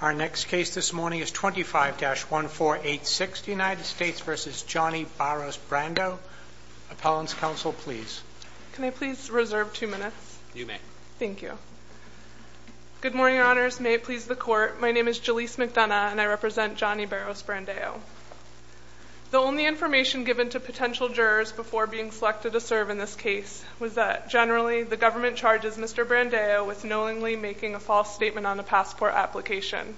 Our next case this morning is 25-1486, United States v. Johnny Barros Brandao, Appellant's Counsel, please. Can I please reserve two minutes? You may. Thank you. Good morning, Your Honors. May it please the Court, my name is Jalees McDonough and I represent Johnny Barros Brandao. The only information given to potential jurors before being selected to serve in this case was that generally the government charges Mr. Brandao with knowingly making a false statement on a passport application.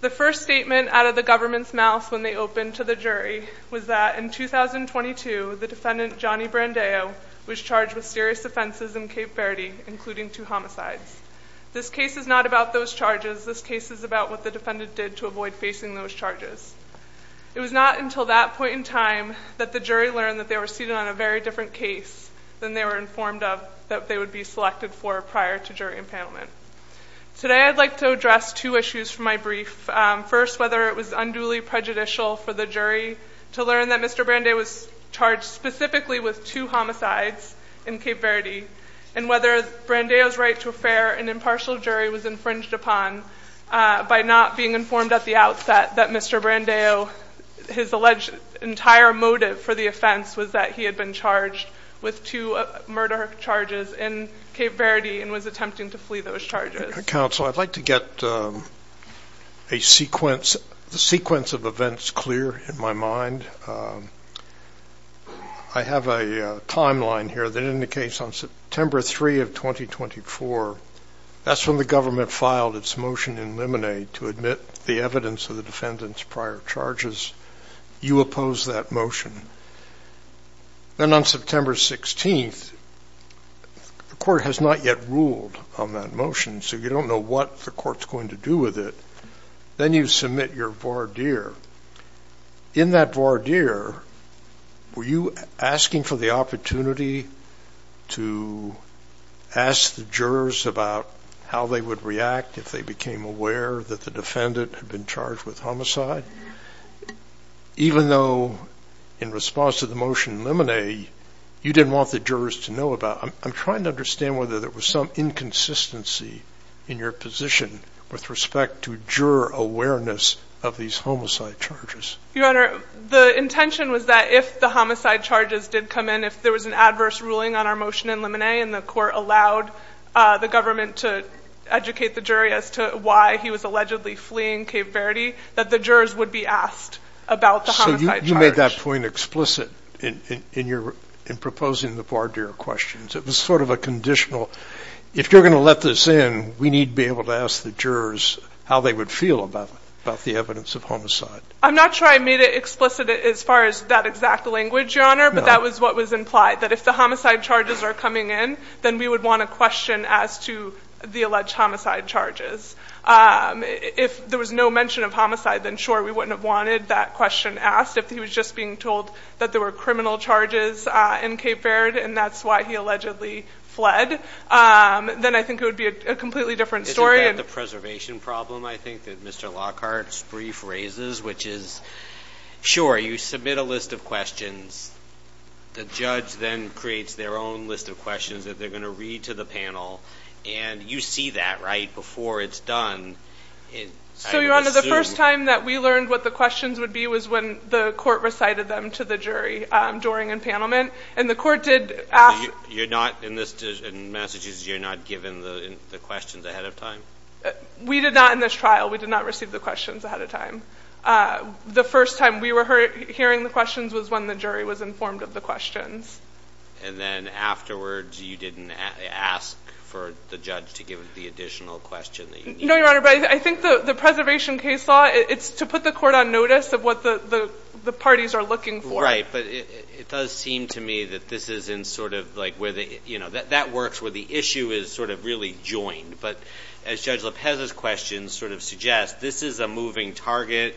The first statement out of the government's mouth when they opened to the jury was that in 2022 the defendant, Johnny Brandao, was charged with serious offenses in Cape Verde, including two homicides. This case is not about those charges, this case is about what the defendant did to avoid facing those charges. It was not until that point in time that the jury learned that they were seated on a very different case than they were informed of that they would be selected for prior to jury empanelment. Today I'd like to address two issues from my brief, first whether it was unduly prejudicial for the jury to learn that Mr. Brandao was charged specifically with two homicides in Cape Verde, and whether Brandao's right to a fair and impartial jury was infringed upon by not being informed at the outset that Mr. Brandao, his alleged entire motive for the offense was that he had been charged with two murder charges in Cape Verde and was attempting to flee those charges. Counsel, I'd like to get a sequence of events clear in my mind. I have a timeline here that indicates on September 3 of 2024, that's when the government filed its motion in Lemonade to admit the evidence of the defendant's prior charges, you opposed that motion. Then on September 16, the court has not yet ruled on that motion, so you don't know what the court's going to do with it. Then you submit your voir dire. In that voir dire, were you asking for the opportunity to ask the jurors about how they would react if they became aware that the defendant had been charged with homicide? Even though in response to the motion in Lemonade, you didn't want the jurors to know about, I'm trying to understand whether there was some inconsistency in your position with respect to juror awareness of these homicide charges. Your Honor, the intention was that if the homicide charges did come in, if there was an adverse ruling on our motion in Lemonade and the court allowed the government to educate the jury as to why he was allegedly fleeing Cave Verde, that the jurors would be asked about the homicide charges. So you made that point explicit in proposing the voir dire questions. It was sort of a conditional, if you're going to let this in, we need to be able to ask the jurors how they would feel about the evidence of homicide. I'm not sure I made it explicit as far as that exact language, Your Honor, but that was what was implied, that if the homicide charges are coming in, then we would want a question as to the alleged homicide charges. If there was no mention of homicide, then sure, we wouldn't have wanted that question asked. If he was just being told that there were criminal charges in Cave Verde and that's why he allegedly fled, then I think it would be a completely different story. Isn't that the preservation problem, I think, that Mr. Lockhart's brief raises, which is, sure, you submit a list of questions, the judge then creates their own list of questions that they're going to read to the panel, and you see that, right, before it's done. So, Your Honor, the first time that we learned what the questions would be was when the court recited them to the jury during empanelment, and the court did ask... You're not, in Massachusetts, you're not given the questions ahead of time? We did not in this trial. We did not receive the questions ahead of time. The first time we were hearing the questions was when the jury was informed of the questions. And then afterwards, you didn't ask for the judge to give the additional question that you needed? No, Your Honor, but I think the preservation case law, it's to put the court on notice of what the parties are looking for. Right, but it does seem to me that this isn't sort of, like, where the, you know, that works where the issue is sort of really joined, but as Judge Lopez's questions sort of suggest, this is a moving target,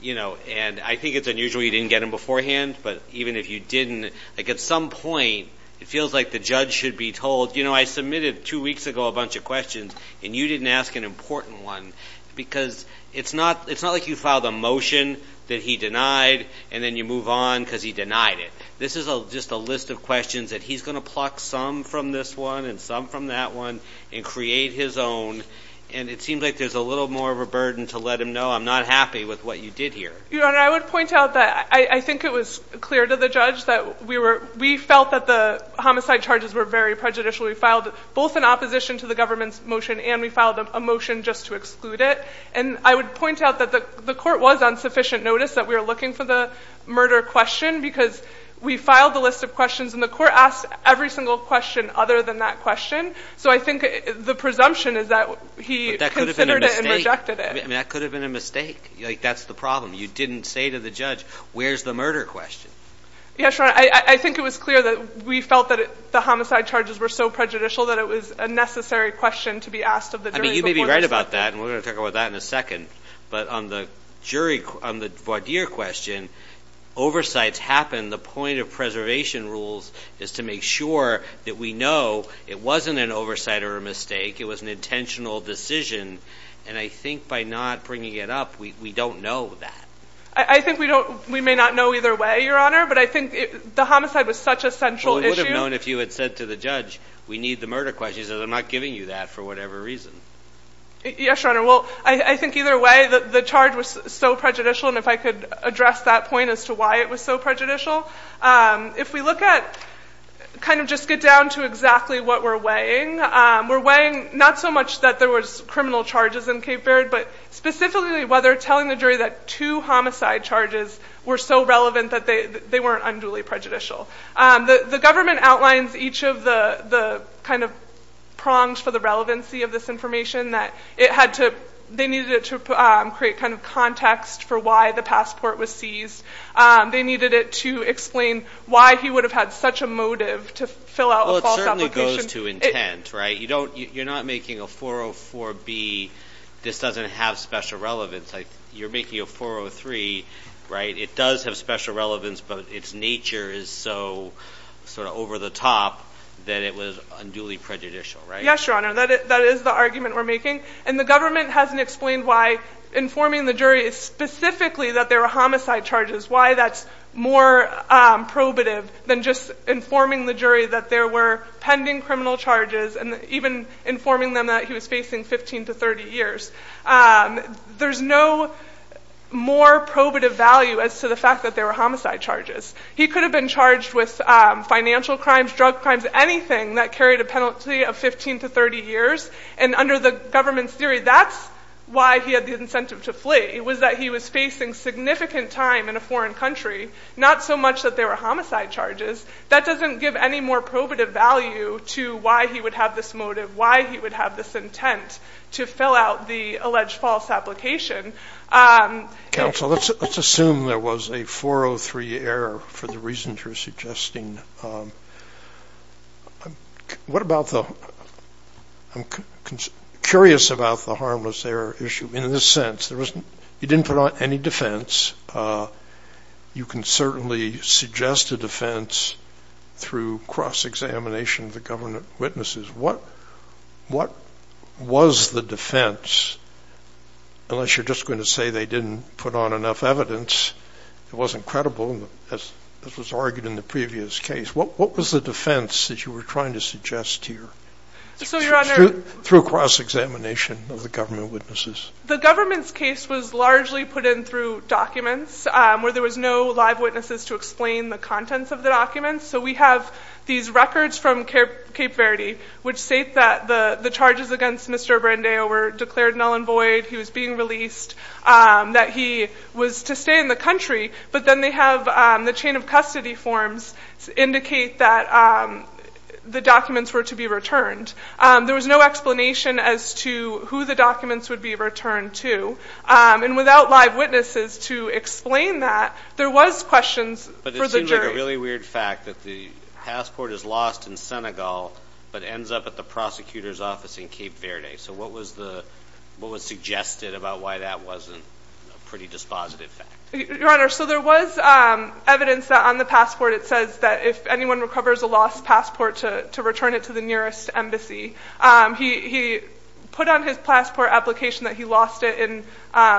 you know, and I think it's unusual you didn't get them beforehand, but even if you didn't, like, at some point, it feels like the judge should be told, you know, I submitted two weeks ago a bunch of questions, and you didn't ask an important one, because it's not, it's not like you filed a motion that he denied, and then you move on because he denied it. This is just a list of questions that he's going to pluck some from this one and some from that one and create his own, and it seems like there's a little more of a burden to let him know, I'm not happy with what you did here. Your Honor, I would point out that I think it was clear to the judge that we were, we felt that the homicide charges were very prejudicial. We filed both an opposition to the government's motion, and we filed a motion just to exclude it, and I would point out that the court was on sufficient notice that we were looking for the murder question, because we filed a list of questions, and the court asked every single question other than that question, so I think the presumption is that he considered it and rejected it. I mean, that could have been a mistake. Like, that's the problem. You didn't say to the judge, where's the murder question? Yes, Your Honor, I think it was clear that we felt that the homicide charges were so prejudicial that it was a necessary question to be asked of the jury before the state. I mean, you may be right about that, and we're going to talk about that in a second, but on the jury, on the voir dire question, oversights happen, the point of preservation rules is to make sure that we know it wasn't an oversight or a mistake, it was an intentional decision, and I think by not bringing it up, we don't know that. I think we don't, we may not know either way, Your Honor, but I think the homicide was such a central issue. Well, we would have known if you had said to the judge, we need the murder question. He says, I'm not giving you that for whatever reason. Yes, Your Honor, well, I think either way, the charge was so prejudicial, and if I could address that point as to why it was so prejudicial, if we look at, kind of just get down to exactly what we're weighing, we're weighing not so much that there was criminal charges in Cape Baird, but specifically whether telling the jury that two homicide charges were so relevant that they weren't unduly prejudicial. The government outlines each of the, kind of, prongs for the relevancy of this information that it had to, they needed it to create, kind of, context for why the passport was seized. They needed it to explain why he would have had such a motive to fill out a false application. Well, it certainly goes to intent, right? You don't, you're not making a 404B, this doesn't have special relevance. You're making a 403, right? It does have special relevance, but its nature is so, sort of, over the top that it was unduly prejudicial, right? Yes, Your Honor. That is the argument we're making, and the government hasn't explained why informing the jury specifically that there were homicide charges, why that's more probative than just informing the jury that there were pending criminal charges, and even informing them that he was facing 15 to 30 years. There's no more probative value as to the fact that there were homicide charges. He could have been charged with financial crimes, drug crimes, anything that carried a penalty of 15 to 30 years, and under the government's theory, that's why he had the incentive to flee. It was that he was facing significant time in a foreign country, not so much that there were homicide charges. That doesn't give any more probative value to why he would have this motive, why he would have this intent to fill out the alleged false application. Counsel, let's assume there was a 403 error for the reasons you're suggesting. What about the, I'm curious about the harmless error issue, in the sense, you didn't put on any defense. You can certainly suggest a defense through cross-examination of the government witnesses. What was the defense, unless you're just going to say they didn't put on enough evidence, it wasn't credible, as was argued in the previous case, what was the defense that you were trying to suggest here, through cross-examination of the government witnesses? The government's case was largely put in through documents, where there was no live witnesses to explain the contents of the documents. We have these records from Cape Verde, which state that the charges against Mr. Brandeo were declared null and void, he was being released, that he was to stay in the country, but then they have the chain of custody forms to indicate that the documents were to be There was no explanation as to who the documents would be returned to, and without live witnesses to explain that, there was questions for the jury. It seems like a really weird fact that the passport is lost in Senegal, but ends up at the prosecutor's office in Cape Verde. So what was suggested about why that wasn't a pretty dispositive fact? Your Honor, so there was evidence that on the passport it says that if anyone recovers a lost passport to return it to the nearest embassy, he put on his passport application that he lost it in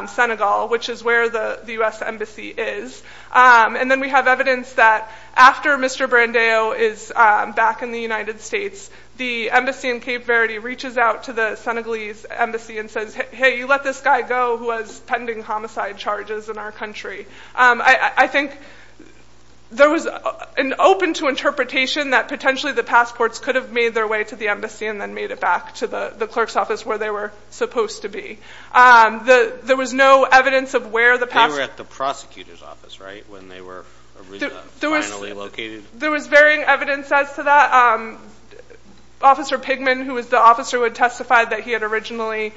Senegal, which is where the U.S. embassy is, and then we have evidence that after Mr. Brandeo is back in the United States, the embassy in Cape Verde reaches out to the Senegalese embassy and says, hey, you let this guy go who was pending homicide charges in our country. I think there was an open-to-interpretation that potentially the passports could have made their way to the embassy and then made it back to the clerk's office where they were supposed to be. There was no evidence of where the passport There was varying evidence as to that. Officer Pigman, who was the officer who had testified that he had originally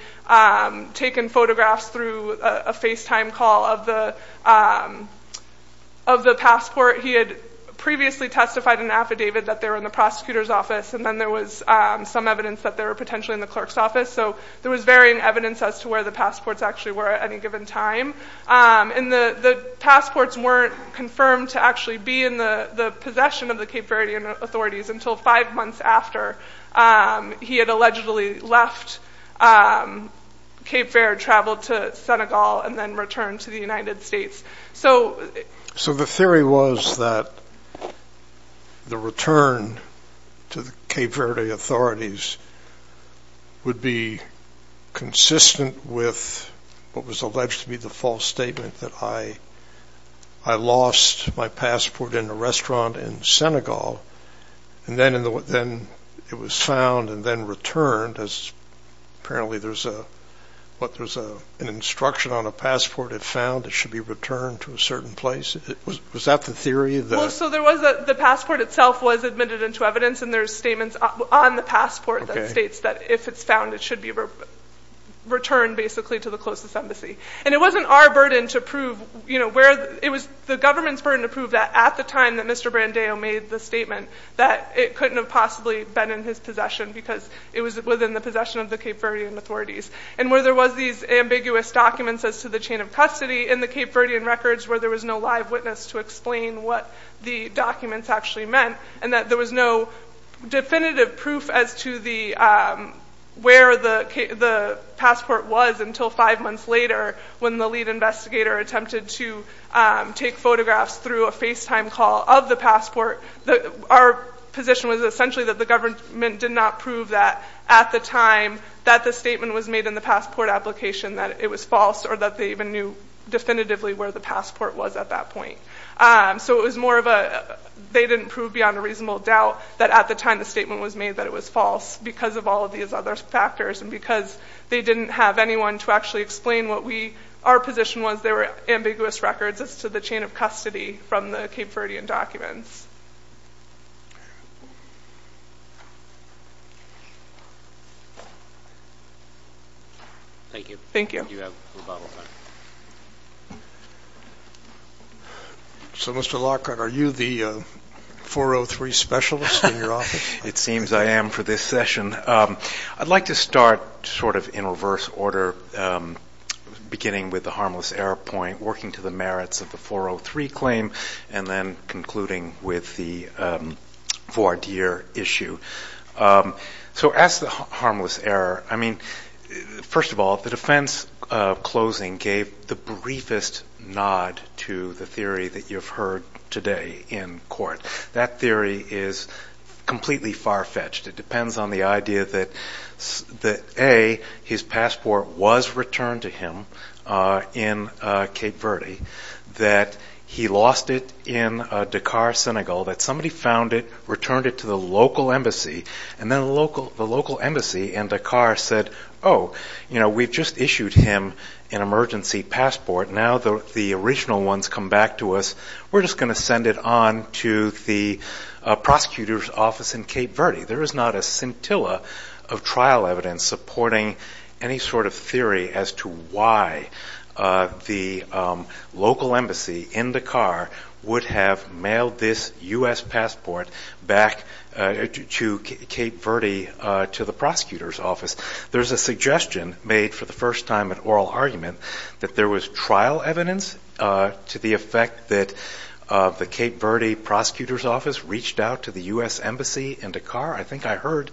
taken photographs through a FaceTime call of the passport, he had previously testified in an affidavit that they were in the prosecutor's office and then there was some evidence that they were potentially in the clerk's office. So there was varying evidence as to where the passports actually were at any given time. And the passports weren't confirmed to actually be in the possession of the Cape Verdean authorities until five months after he had allegedly left Cape Verde, traveled to Senegal and then returned to the United States. So the theory was that the return to the Cape Verde authorities would be consistent with what was alleged to be the false statement that I lost my passport in a restaurant in Senegal and then it was found and then returned as apparently there's an instruction on a passport if found it should be returned to a certain place. Was that the theory? Well so the passport itself was admitted into evidence and there's statements on the passport that states that if it's found it should be returned basically to the closest embassy. And it wasn't our burden to prove, it was the government's burden to prove that at the time that Mr. Brandeo made the statement that it couldn't have possibly been in his possession because it was within the possession of the Cape Verdean authorities. And where there was these ambiguous documents as to the chain of custody in the Cape Verdean records where there was no live witness to explain what the documents actually meant and that there was no definitive proof as to where the passport was until five months later when the lead investigator attempted to take photographs through a FaceTime call of the passport. Our position was essentially that the government did not prove that at the time that the statement was made in the passport application that it was false or that they even knew definitively where the passport was at that point. So it was more of a, they didn't prove beyond a reasonable doubt that at the time the statement was made that it was false because of all of these other factors and because they didn't have anyone to actually explain what we, our position was there were ambiguous records as to the chain of custody from the Cape Verdean documents. Thank you. Thank you. So, Mr. Lockhart, are you the 403 specialist in your office? It seems I am for this session. I'd like to start sort of in reverse order, beginning with the harmless error point, working to the merits of the 403 claim, and then concluding with the voir dire issue. So as to the harmless error, I mean, first of all, the defense closing gave the briefest nod to the theory that you've heard today in court. That theory is completely far-fetched. It depends on the idea that A, his passport was returned to him in Cape Verde, that he lost it in Dakar, Senegal, that somebody found it, returned it to the local embassy, and then the local embassy in Dakar said, oh, you know, we've just issued him an emergency passport. Now the original ones come back to us. We're just going to send it on to the prosecutor's office in Cape Verde. There is not a scintilla of trial evidence supporting any sort of theory as to why the local embassy in Dakar would have mailed this U.S. passport back to Cape Verde to the prosecutor's office. There's a suggestion made for the first time in oral argument that there was trial evidence to the effect that the Cape Verde prosecutor's office reached out to the U.S. embassy in I think I heard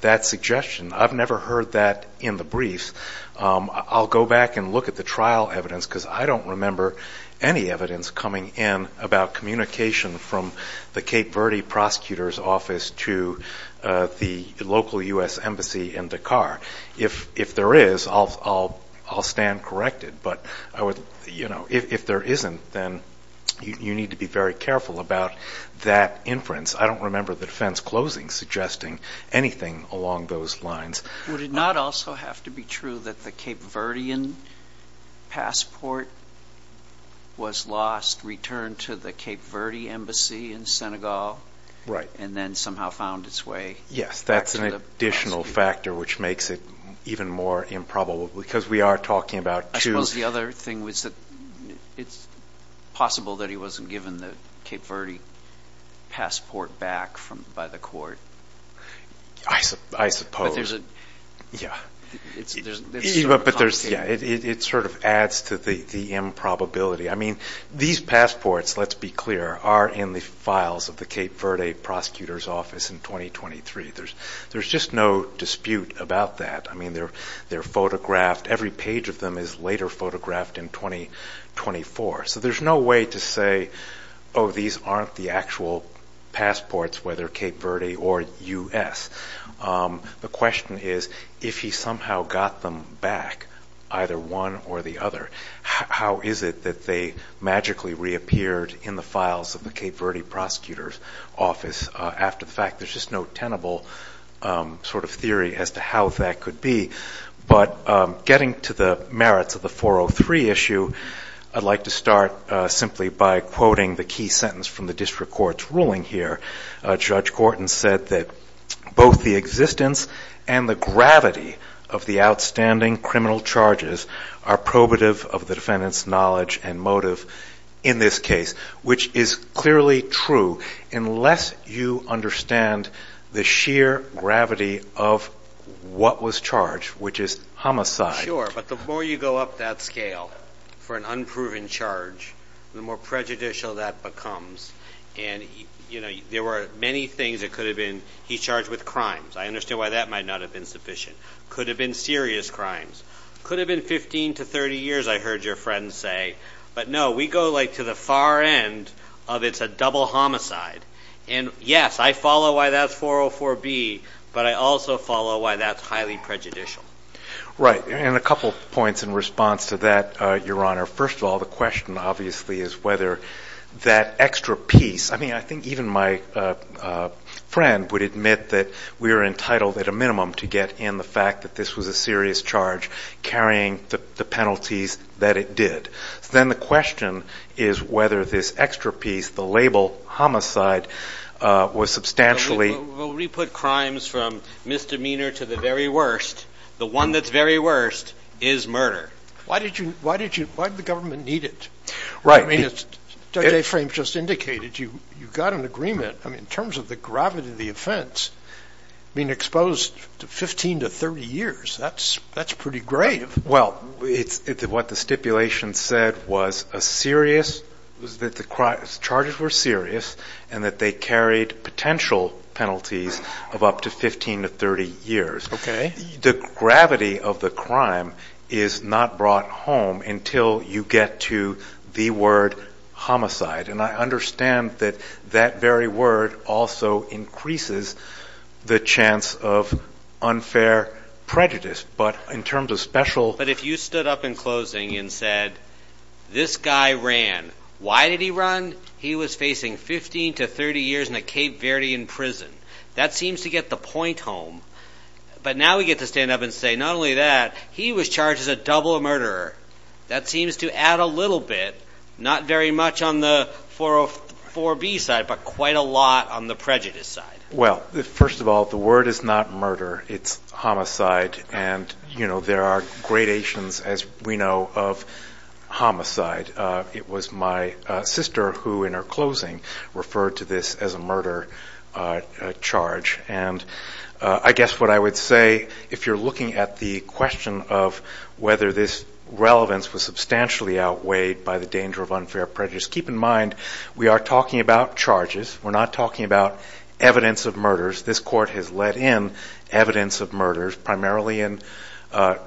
that suggestion. I've never heard that in the briefs. I'll go back and look at the trial evidence, because I don't remember any evidence coming in about communication from the Cape Verde prosecutor's office to the local U.S. embassy in Dakar. If there is, I'll stand corrected, but I would, you know, if there isn't, then you need to be very careful about that inference. I don't remember the defense closing suggesting anything along those lines. Would it not also have to be true that the Cape Verdean passport was lost, returned to the Cape Verde embassy in Senegal, and then somehow found its way back to the embassy? That's an additional factor, which makes it even more improbable, because we are talking about two I suppose the other thing was that it's possible that he wasn't given the Cape Verde passport back by the court. I suppose. Yeah. It's sort of complicated. But there's, yeah, it sort of adds to the improbability. I mean, these passports, let's be clear, are in the files of the Cape Verde prosecutor's office in 2023. There's just no dispute about that. I mean, they're photographed. Every page of them is later photographed in 2024. So there's no way to say, oh, these aren't the actual passports, whether Cape Verde or U.S. The question is, if he somehow got them back, either one or the other, how is it that they magically reappeared in the files of the Cape Verde prosecutor's office after the fact? There's just no tenable sort of theory as to how that could be. But getting to the merits of the 403 issue, I'd like to start simply by quoting the key sentence from the district court's ruling here. Judge Gorton said that both the existence and the gravity of the outstanding criminal charges are probative of the defendant's knowledge and motive in this case, which is clearly true unless you understand the sheer gravity of what was charged, which is homicide. Sure. But the more you go up that scale for an unproven charge, the more prejudicial that becomes. And there were many things that could have been, he's charged with crimes. I understand why that might not have been sufficient. Could have been serious crimes. Could have been 15 to 30 years, I heard your friend say. But no, we go like to the far end of it's a double homicide. And yes, I follow why that's 404B, but I also follow why that's highly prejudicial. Right. And a couple of points in response to that, Your Honor. First of all, the question obviously is whether that extra piece, I mean, I think even my friend would admit that we are entitled at a minimum to get in the fact that this was a serious charge carrying the penalties that it did. Then the question is whether this extra piece, the label homicide, was substantially- Well, we put crimes from misdemeanor to the very worst. The one that's very worst is murder. Why did the government need it? Right. I mean, as Judge Aframe just indicated, you got an agreement. I mean, in terms of the gravity of the offense, being exposed to 15 to 30 years, that's pretty grave. Well, what the stipulation said was that the charges were serious and that they carried potential penalties of up to 15 to 30 years. The gravity of the crime is not brought home until you get to the word homicide. And I understand that that very word also increases the chance of unfair prejudice. But in terms of special- But if you stood up in closing and said, this guy ran, why did he run? He was facing 15 to 30 years in a Cape Verdean prison. That seems to get the point home. But now we get to stand up and say, not only that, he was charged as a double murderer. That seems to add a little bit, not very much on the 404B side, but quite a lot on the prejudice side. Well, first of all, the word is not murder. It's homicide. And there are gradations, as we know, of homicide. It was my sister who, in her closing, referred to this as a murder charge. And I guess what I would say, if you're looking at the question of whether this relevance was substantially outweighed by the danger of unfair prejudice, keep in mind, we are talking about charges. We're not talking about evidence of murders. This court has let in evidence of murders, primarily in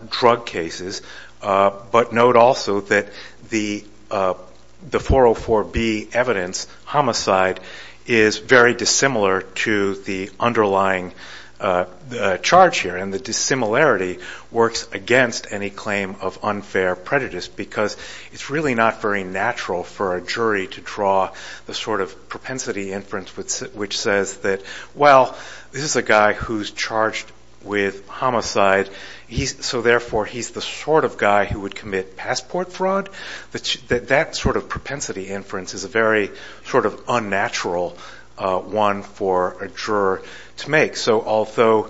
drug cases. But note also that the 404B evidence, homicide, is very dissimilar to the underlying charge here. And the dissimilarity works against any claim of unfair prejudice, because it's really not very natural for a jury to draw the sort of propensity inference which says that, well, this is a guy who's charged with homicide. So therefore, he's the sort of guy who would commit passport fraud. That sort of propensity inference is a very sort of unnatural one for a juror to make. So although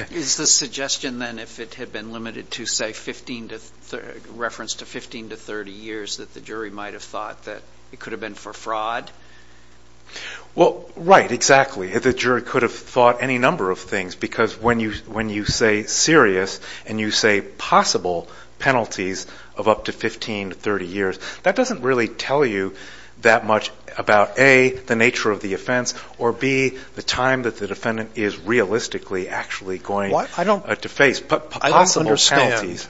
— Is the suggestion, then, if it had been limited to, say, 15 to — reference to 15 to 30 years that the jury might have thought that it could have been for fraud? Well, right, exactly. The jury could have thought any number of things. Because when you say serious, and you say possible penalties of up to 15 to 30 years, that doesn't really tell you that much about, A, the nature of the offense, or, B, the time that the defendant is realistically actually going to face possible penalties.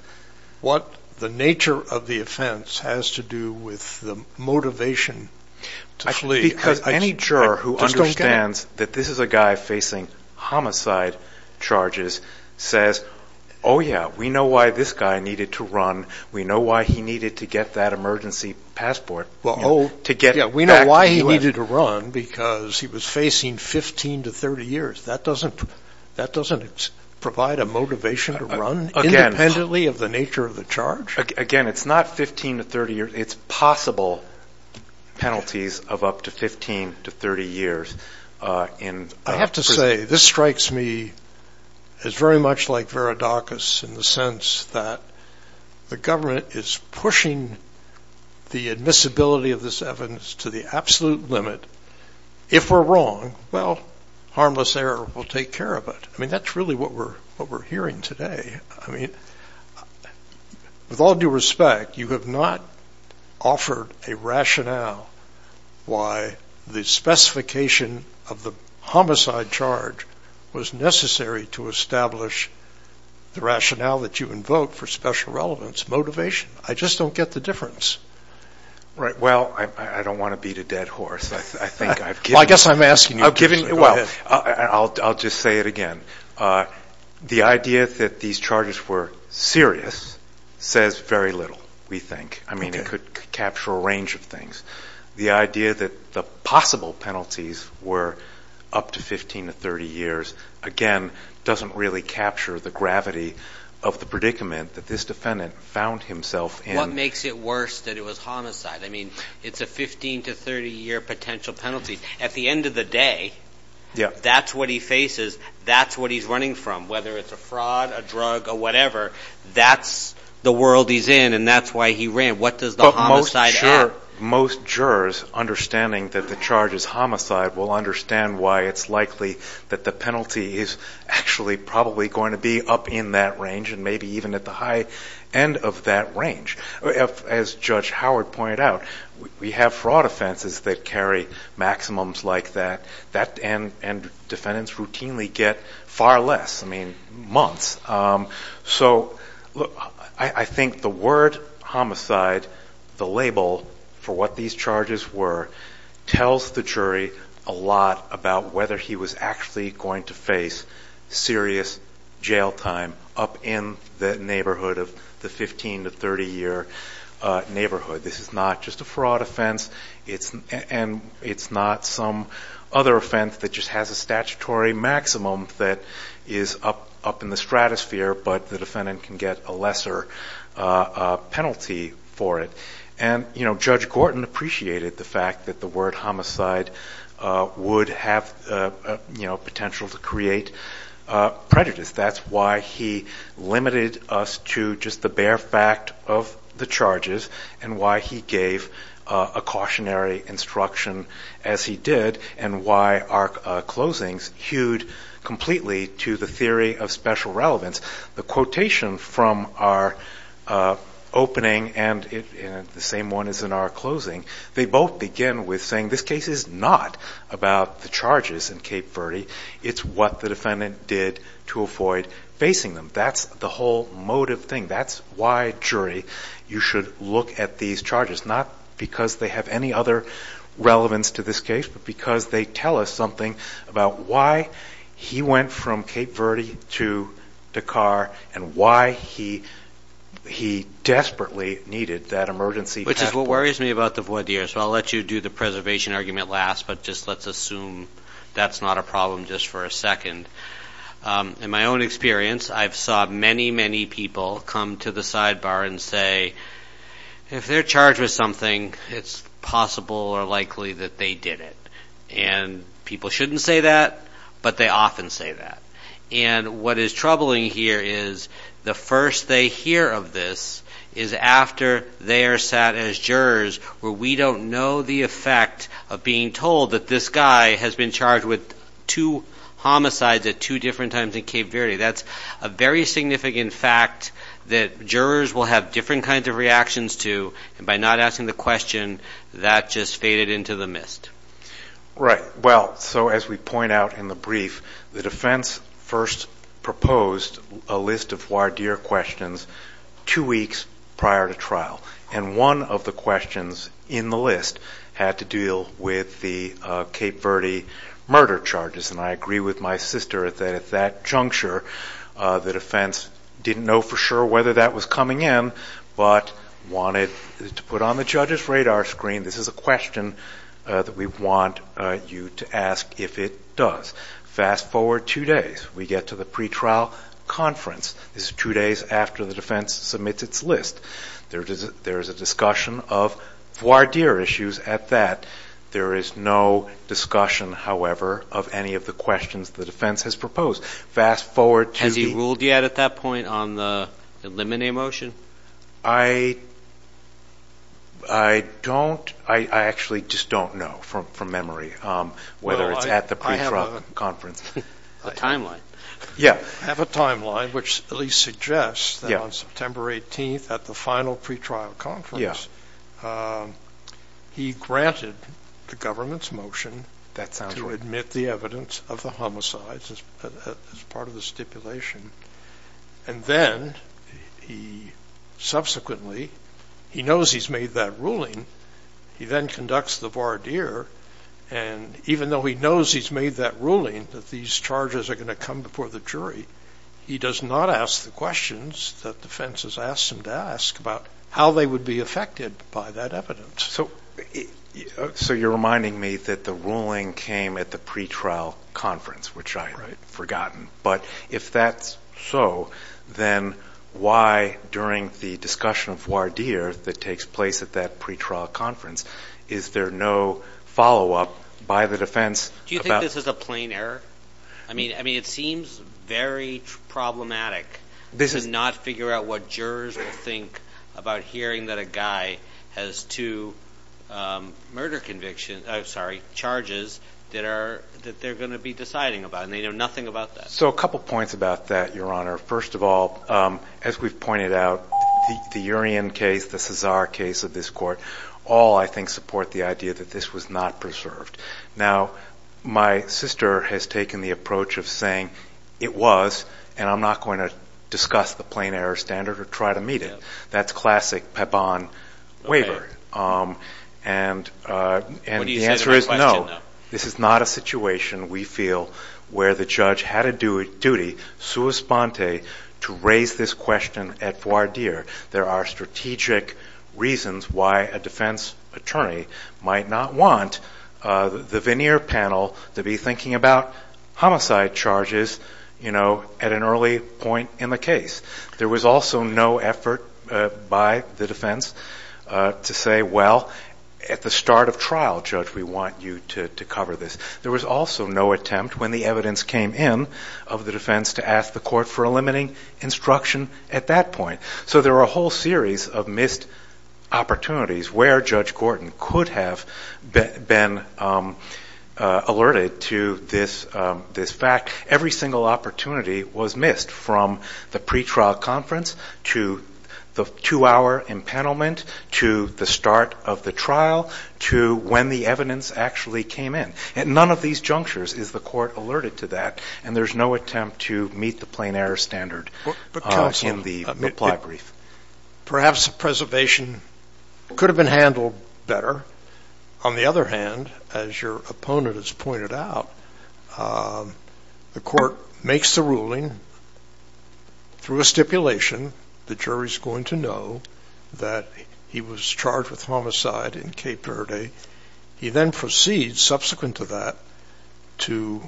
What the nature of the offense has to do with the motivation to flee. Because any juror who understands that this is a guy facing homicide charges says, oh, yeah, we know why this guy needed to run. We know why he needed to get that emergency passport to get back to the U.S. Yeah, we know why he needed to run, because he was facing 15 to 30 years. That doesn't provide a motivation to run. Independently of the nature of the charge? Again, it's not 15 to 30 years. It's possible penalties of up to 15 to 30 years. I have to say, this strikes me as very much like Veridacus in the sense that the government is pushing the admissibility of this evidence to the absolute limit. If we're wrong, well, harmless error will take care of it. I mean, that's really what we're hearing today. I mean, with all due respect, you have not offered a rationale why the specification of the homicide charge was necessary to establish the rationale that you invoke for special relevance, motivation. I just don't get the difference. Well, I don't want to beat a dead horse. I think I've given... I guess I'm asking you... I've given... Well, I'll just say it again. The idea that these charges were serious says very little, we think. I mean, it could capture a range of things. The idea that the possible penalties were up to 15 to 30 years, again, doesn't really capture the gravity of the predicament that this defendant found himself in. What makes it worse than it was homicide? I mean, it's a 15 to 30 year potential penalty. At the end of the day, that's what he faces. That's what he's running from, whether it's a fraud, a drug, or whatever. That's the world he's in, and that's why he ran. What does the homicide add? Most jurors understanding that the charge is homicide will understand why it's likely that the penalty is actually probably going to be up in that range, and maybe even at the high end of that range. As Judge Howard pointed out, we have fraud offenses that carry maximums like that, and defendants routinely get far less, I mean, months. So I think the word homicide, the label for what these charges were, tells the jury a lot about whether he was actually going to face serious jail time up in the neighborhood of the 15 to 30 year neighborhood. This is not just a fraud offense, and it's not some other offense that just has a statutory maximum that is up in the stratosphere, but the defendant can get a lesser penalty for it. And Judge Gorton appreciated the fact that the word homicide would have potential to create prejudice. That's why he limited us to just the bare fact of the charges, and why he gave a cautionary instruction as he did, and why our closings hewed completely to the theory of special relevance. The quotation from our opening, and the same one as in our closing, they both begin with saying this case is not about the charges in Cape Verde. It's what the defendant did to avoid facing them. That's the whole motive thing. That's why, jury, you should look at these charges. Not because they have any other relevance to this case, but because they tell us something about why he went from Cape Verde to Dakar, and why he desperately needed that emergency cap. Which is what worries me about the voir dire. So I'll let you do the preservation argument last, but just let's assume that's not a problem just for a second. In my own experience, I've saw many, many people come to the sidebar and say, if they're charged with something, it's possible or likely that they did it. And people shouldn't say that, but they often say that. And what is troubling here is the first they hear of this is after they are sat as jurors where we don't know the effect of being told that this guy has been charged with two homicides at two different times in Cape Verde. That's a very significant fact that jurors will have different kinds of reactions to. And by not asking the question, that just faded into the mist. Right. Well, so as we point out in the brief, the defense first proposed a list of voir dire questions two weeks prior to trial. And one of the questions in the list had to deal with the Cape Verde murder charges. And I agree with my sister that at that juncture, the defense didn't know for sure whether that was coming in, but wanted to put on the judge's radar screen, this is a question that we want you to ask if it does. Fast forward two days. We get to the pretrial conference. This is two days after the defense submits its list. There is a discussion of voir dire issues at that. There is no discussion, however, of any of the questions the defense has proposed. Fast forward to the- Has he ruled yet at that point on the eliminate motion? I don't. I actually just don't know from memory whether it's at the pretrial conference. A timeline. Yeah. Have a timeline which at least suggests that on September 18th at the final pretrial conference, he granted the government's motion to admit the evidence of the homicides as part of the stipulation. And then he subsequently, he knows he's made that ruling. He then conducts the voir dire. And even though he knows he's made that ruling, that these charges are going to come before the jury, he does not ask the questions that defense has asked him to ask about how they would be affected by that evidence. So you're reminding me that the ruling came at the pretrial conference, which I had forgotten. But if that's so, then why during the discussion of voir dire that takes place at that pretrial conference, is there no follow-up by the defense about- Do you think this is a plain error? I mean, it seems very problematic to not figure out what jurors would think about hearing that a guy has two murder conviction, I'm sorry, charges that they're going to be deciding about. And they know nothing about that. So a couple points about that, Your Honor. First of all, as we've pointed out, the Urien case, the Cesar case of this court, all I think support the idea that this was not preserved. Now, my sister has taken the approach of saying, it was, and I'm not going to discuss the plain error standard or try to meet it. That's classic Pepin waiver. And the answer is no. This is not a situation, we feel, where the judge had a duty, sua sponte, to raise this question at voir dire. There are strategic reasons why a defense attorney might not want the veneer panel to be thinking about homicide charges at an early point in the case. There was also no effort by the defense to say, well, at the start of trial, judge, we want you to cover this. There was also no attempt, when the evidence came in, of the defense to ask the court for a limiting instruction at that point. So there are a whole series of missed opportunities where Judge Gordon could have been alerted to this fact. Every single opportunity was missed, from the pretrial conference, to the two-hour impanelment, to the start of the trial, to when the evidence actually came in. None of these junctures is the court alerted to that, and there's no attempt to meet the standard in the ply brief. Perhaps preservation could have been handled better. On the other hand, as your opponent has pointed out, the court makes the ruling through a stipulation. The jury's going to know that he was charged with homicide in Cape Verde. He then proceeds, subsequent to that, to,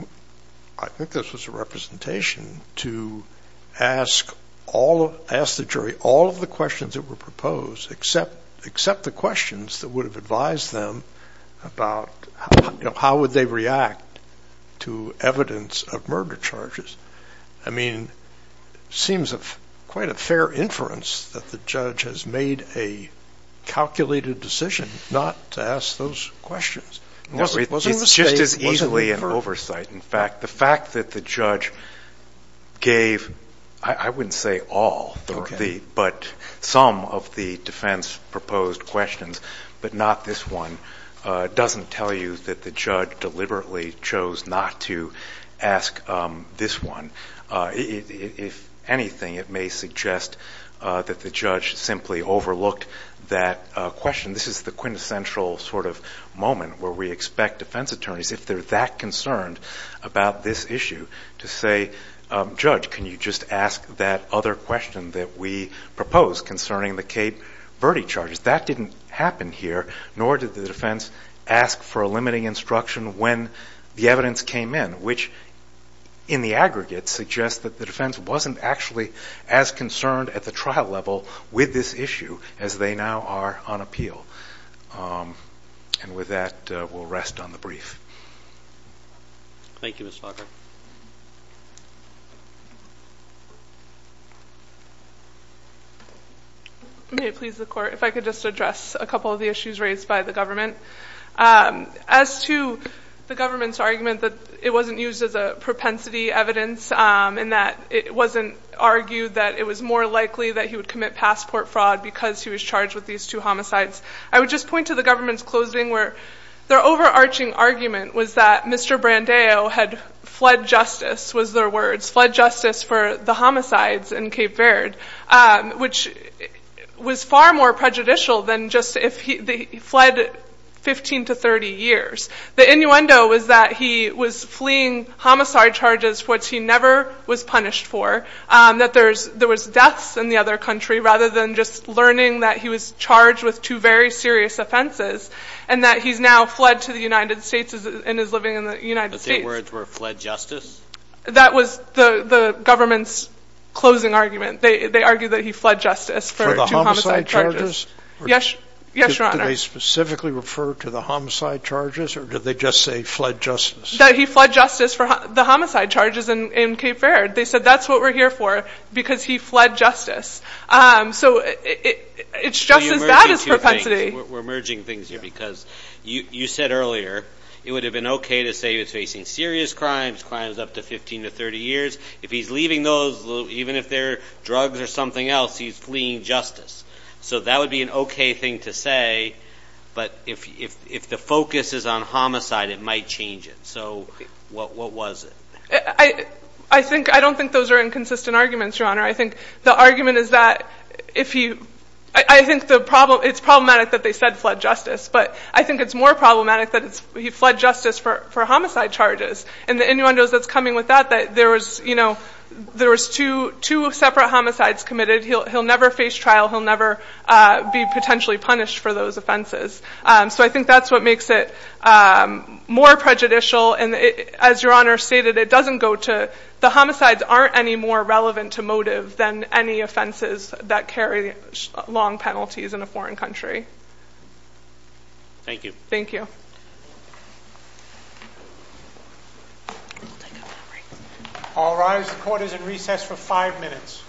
I think this was a representation, to ask the jury all of the questions that were proposed, except the questions that would have advised them about how would they react to evidence of murder charges. Seems quite a fair inference that the judge has made a calculated decision not to ask those questions. It wasn't a mistake. It's just as easily an oversight. In fact, the fact that the judge gave, I wouldn't say all, but some of the defense-proposed questions, but not this one, doesn't tell you that the judge deliberately chose not to ask this one. If anything, it may suggest that the judge simply overlooked that question. This is the quintessential sort of moment where we expect defense attorneys, if they're that concerned about this issue, to say, Judge, can you just ask that other question that we proposed concerning the Cape Verde charges? That didn't happen here, nor did the defense ask for a limiting instruction when the evidence came in, which, in the aggregate, suggests that the defense wasn't actually as concerned at the trial level with this issue as they now are on appeal. And with that, we'll rest on the brief. Thank you, Mr. Hawker. May it please the Court, if I could just address a couple of the issues raised by the government. As to the government's argument that it wasn't used as a propensity evidence and that it wasn't argued that it was more likely that he would commit passport fraud because he was charged with these two homicides, I would just point to the government's closing, where their overarching argument was that Mr. Brandeo had fled justice, was their words, fled justice for the homicides in Cape Verde, which was far more prejudicial than just if he fled 15 to 30 years. The innuendo was that he was fleeing homicide charges, which he never was punished for, that there was deaths in the other country, rather than just learning that he was charged with two very serious offenses, and that he's now fled to the United States and is living in the United States. But their words were fled justice? That was the government's closing argument. They argued that he fled justice for two homicide charges. For the homicide charges? Yes, Your Honor. Did they specifically refer to the homicide charges or did they just say fled justice? That he fled justice for the homicide charges in Cape Verde. They said that's what we're here for because he fled justice. So it's just as bad as propensity. We're merging things here because you said earlier it would have been okay to say he was facing serious crimes, crimes up to 15 to 30 years. If he's leaving those, even if they're drugs or something else, he's fleeing justice. So that would be an okay thing to say, but if the focus is on homicide, it might change it. So what was it? I don't think those are inconsistent arguments, Your Honor. I think the argument is that if he, I think it's problematic that they said fled justice, but I think it's more problematic that he fled justice for homicide charges. And the innuendo that's coming with that, that there was two separate homicides committed. He'll never face trial. He'll never be potentially punished for those offenses. So I think that's what makes it more prejudicial. And as Your Honor stated, it doesn't go to, the homicides aren't any more relevant to motive than any offenses that carry long penalties in a foreign country. Thank you. Thank you. All rise. The court is in recess for five minutes.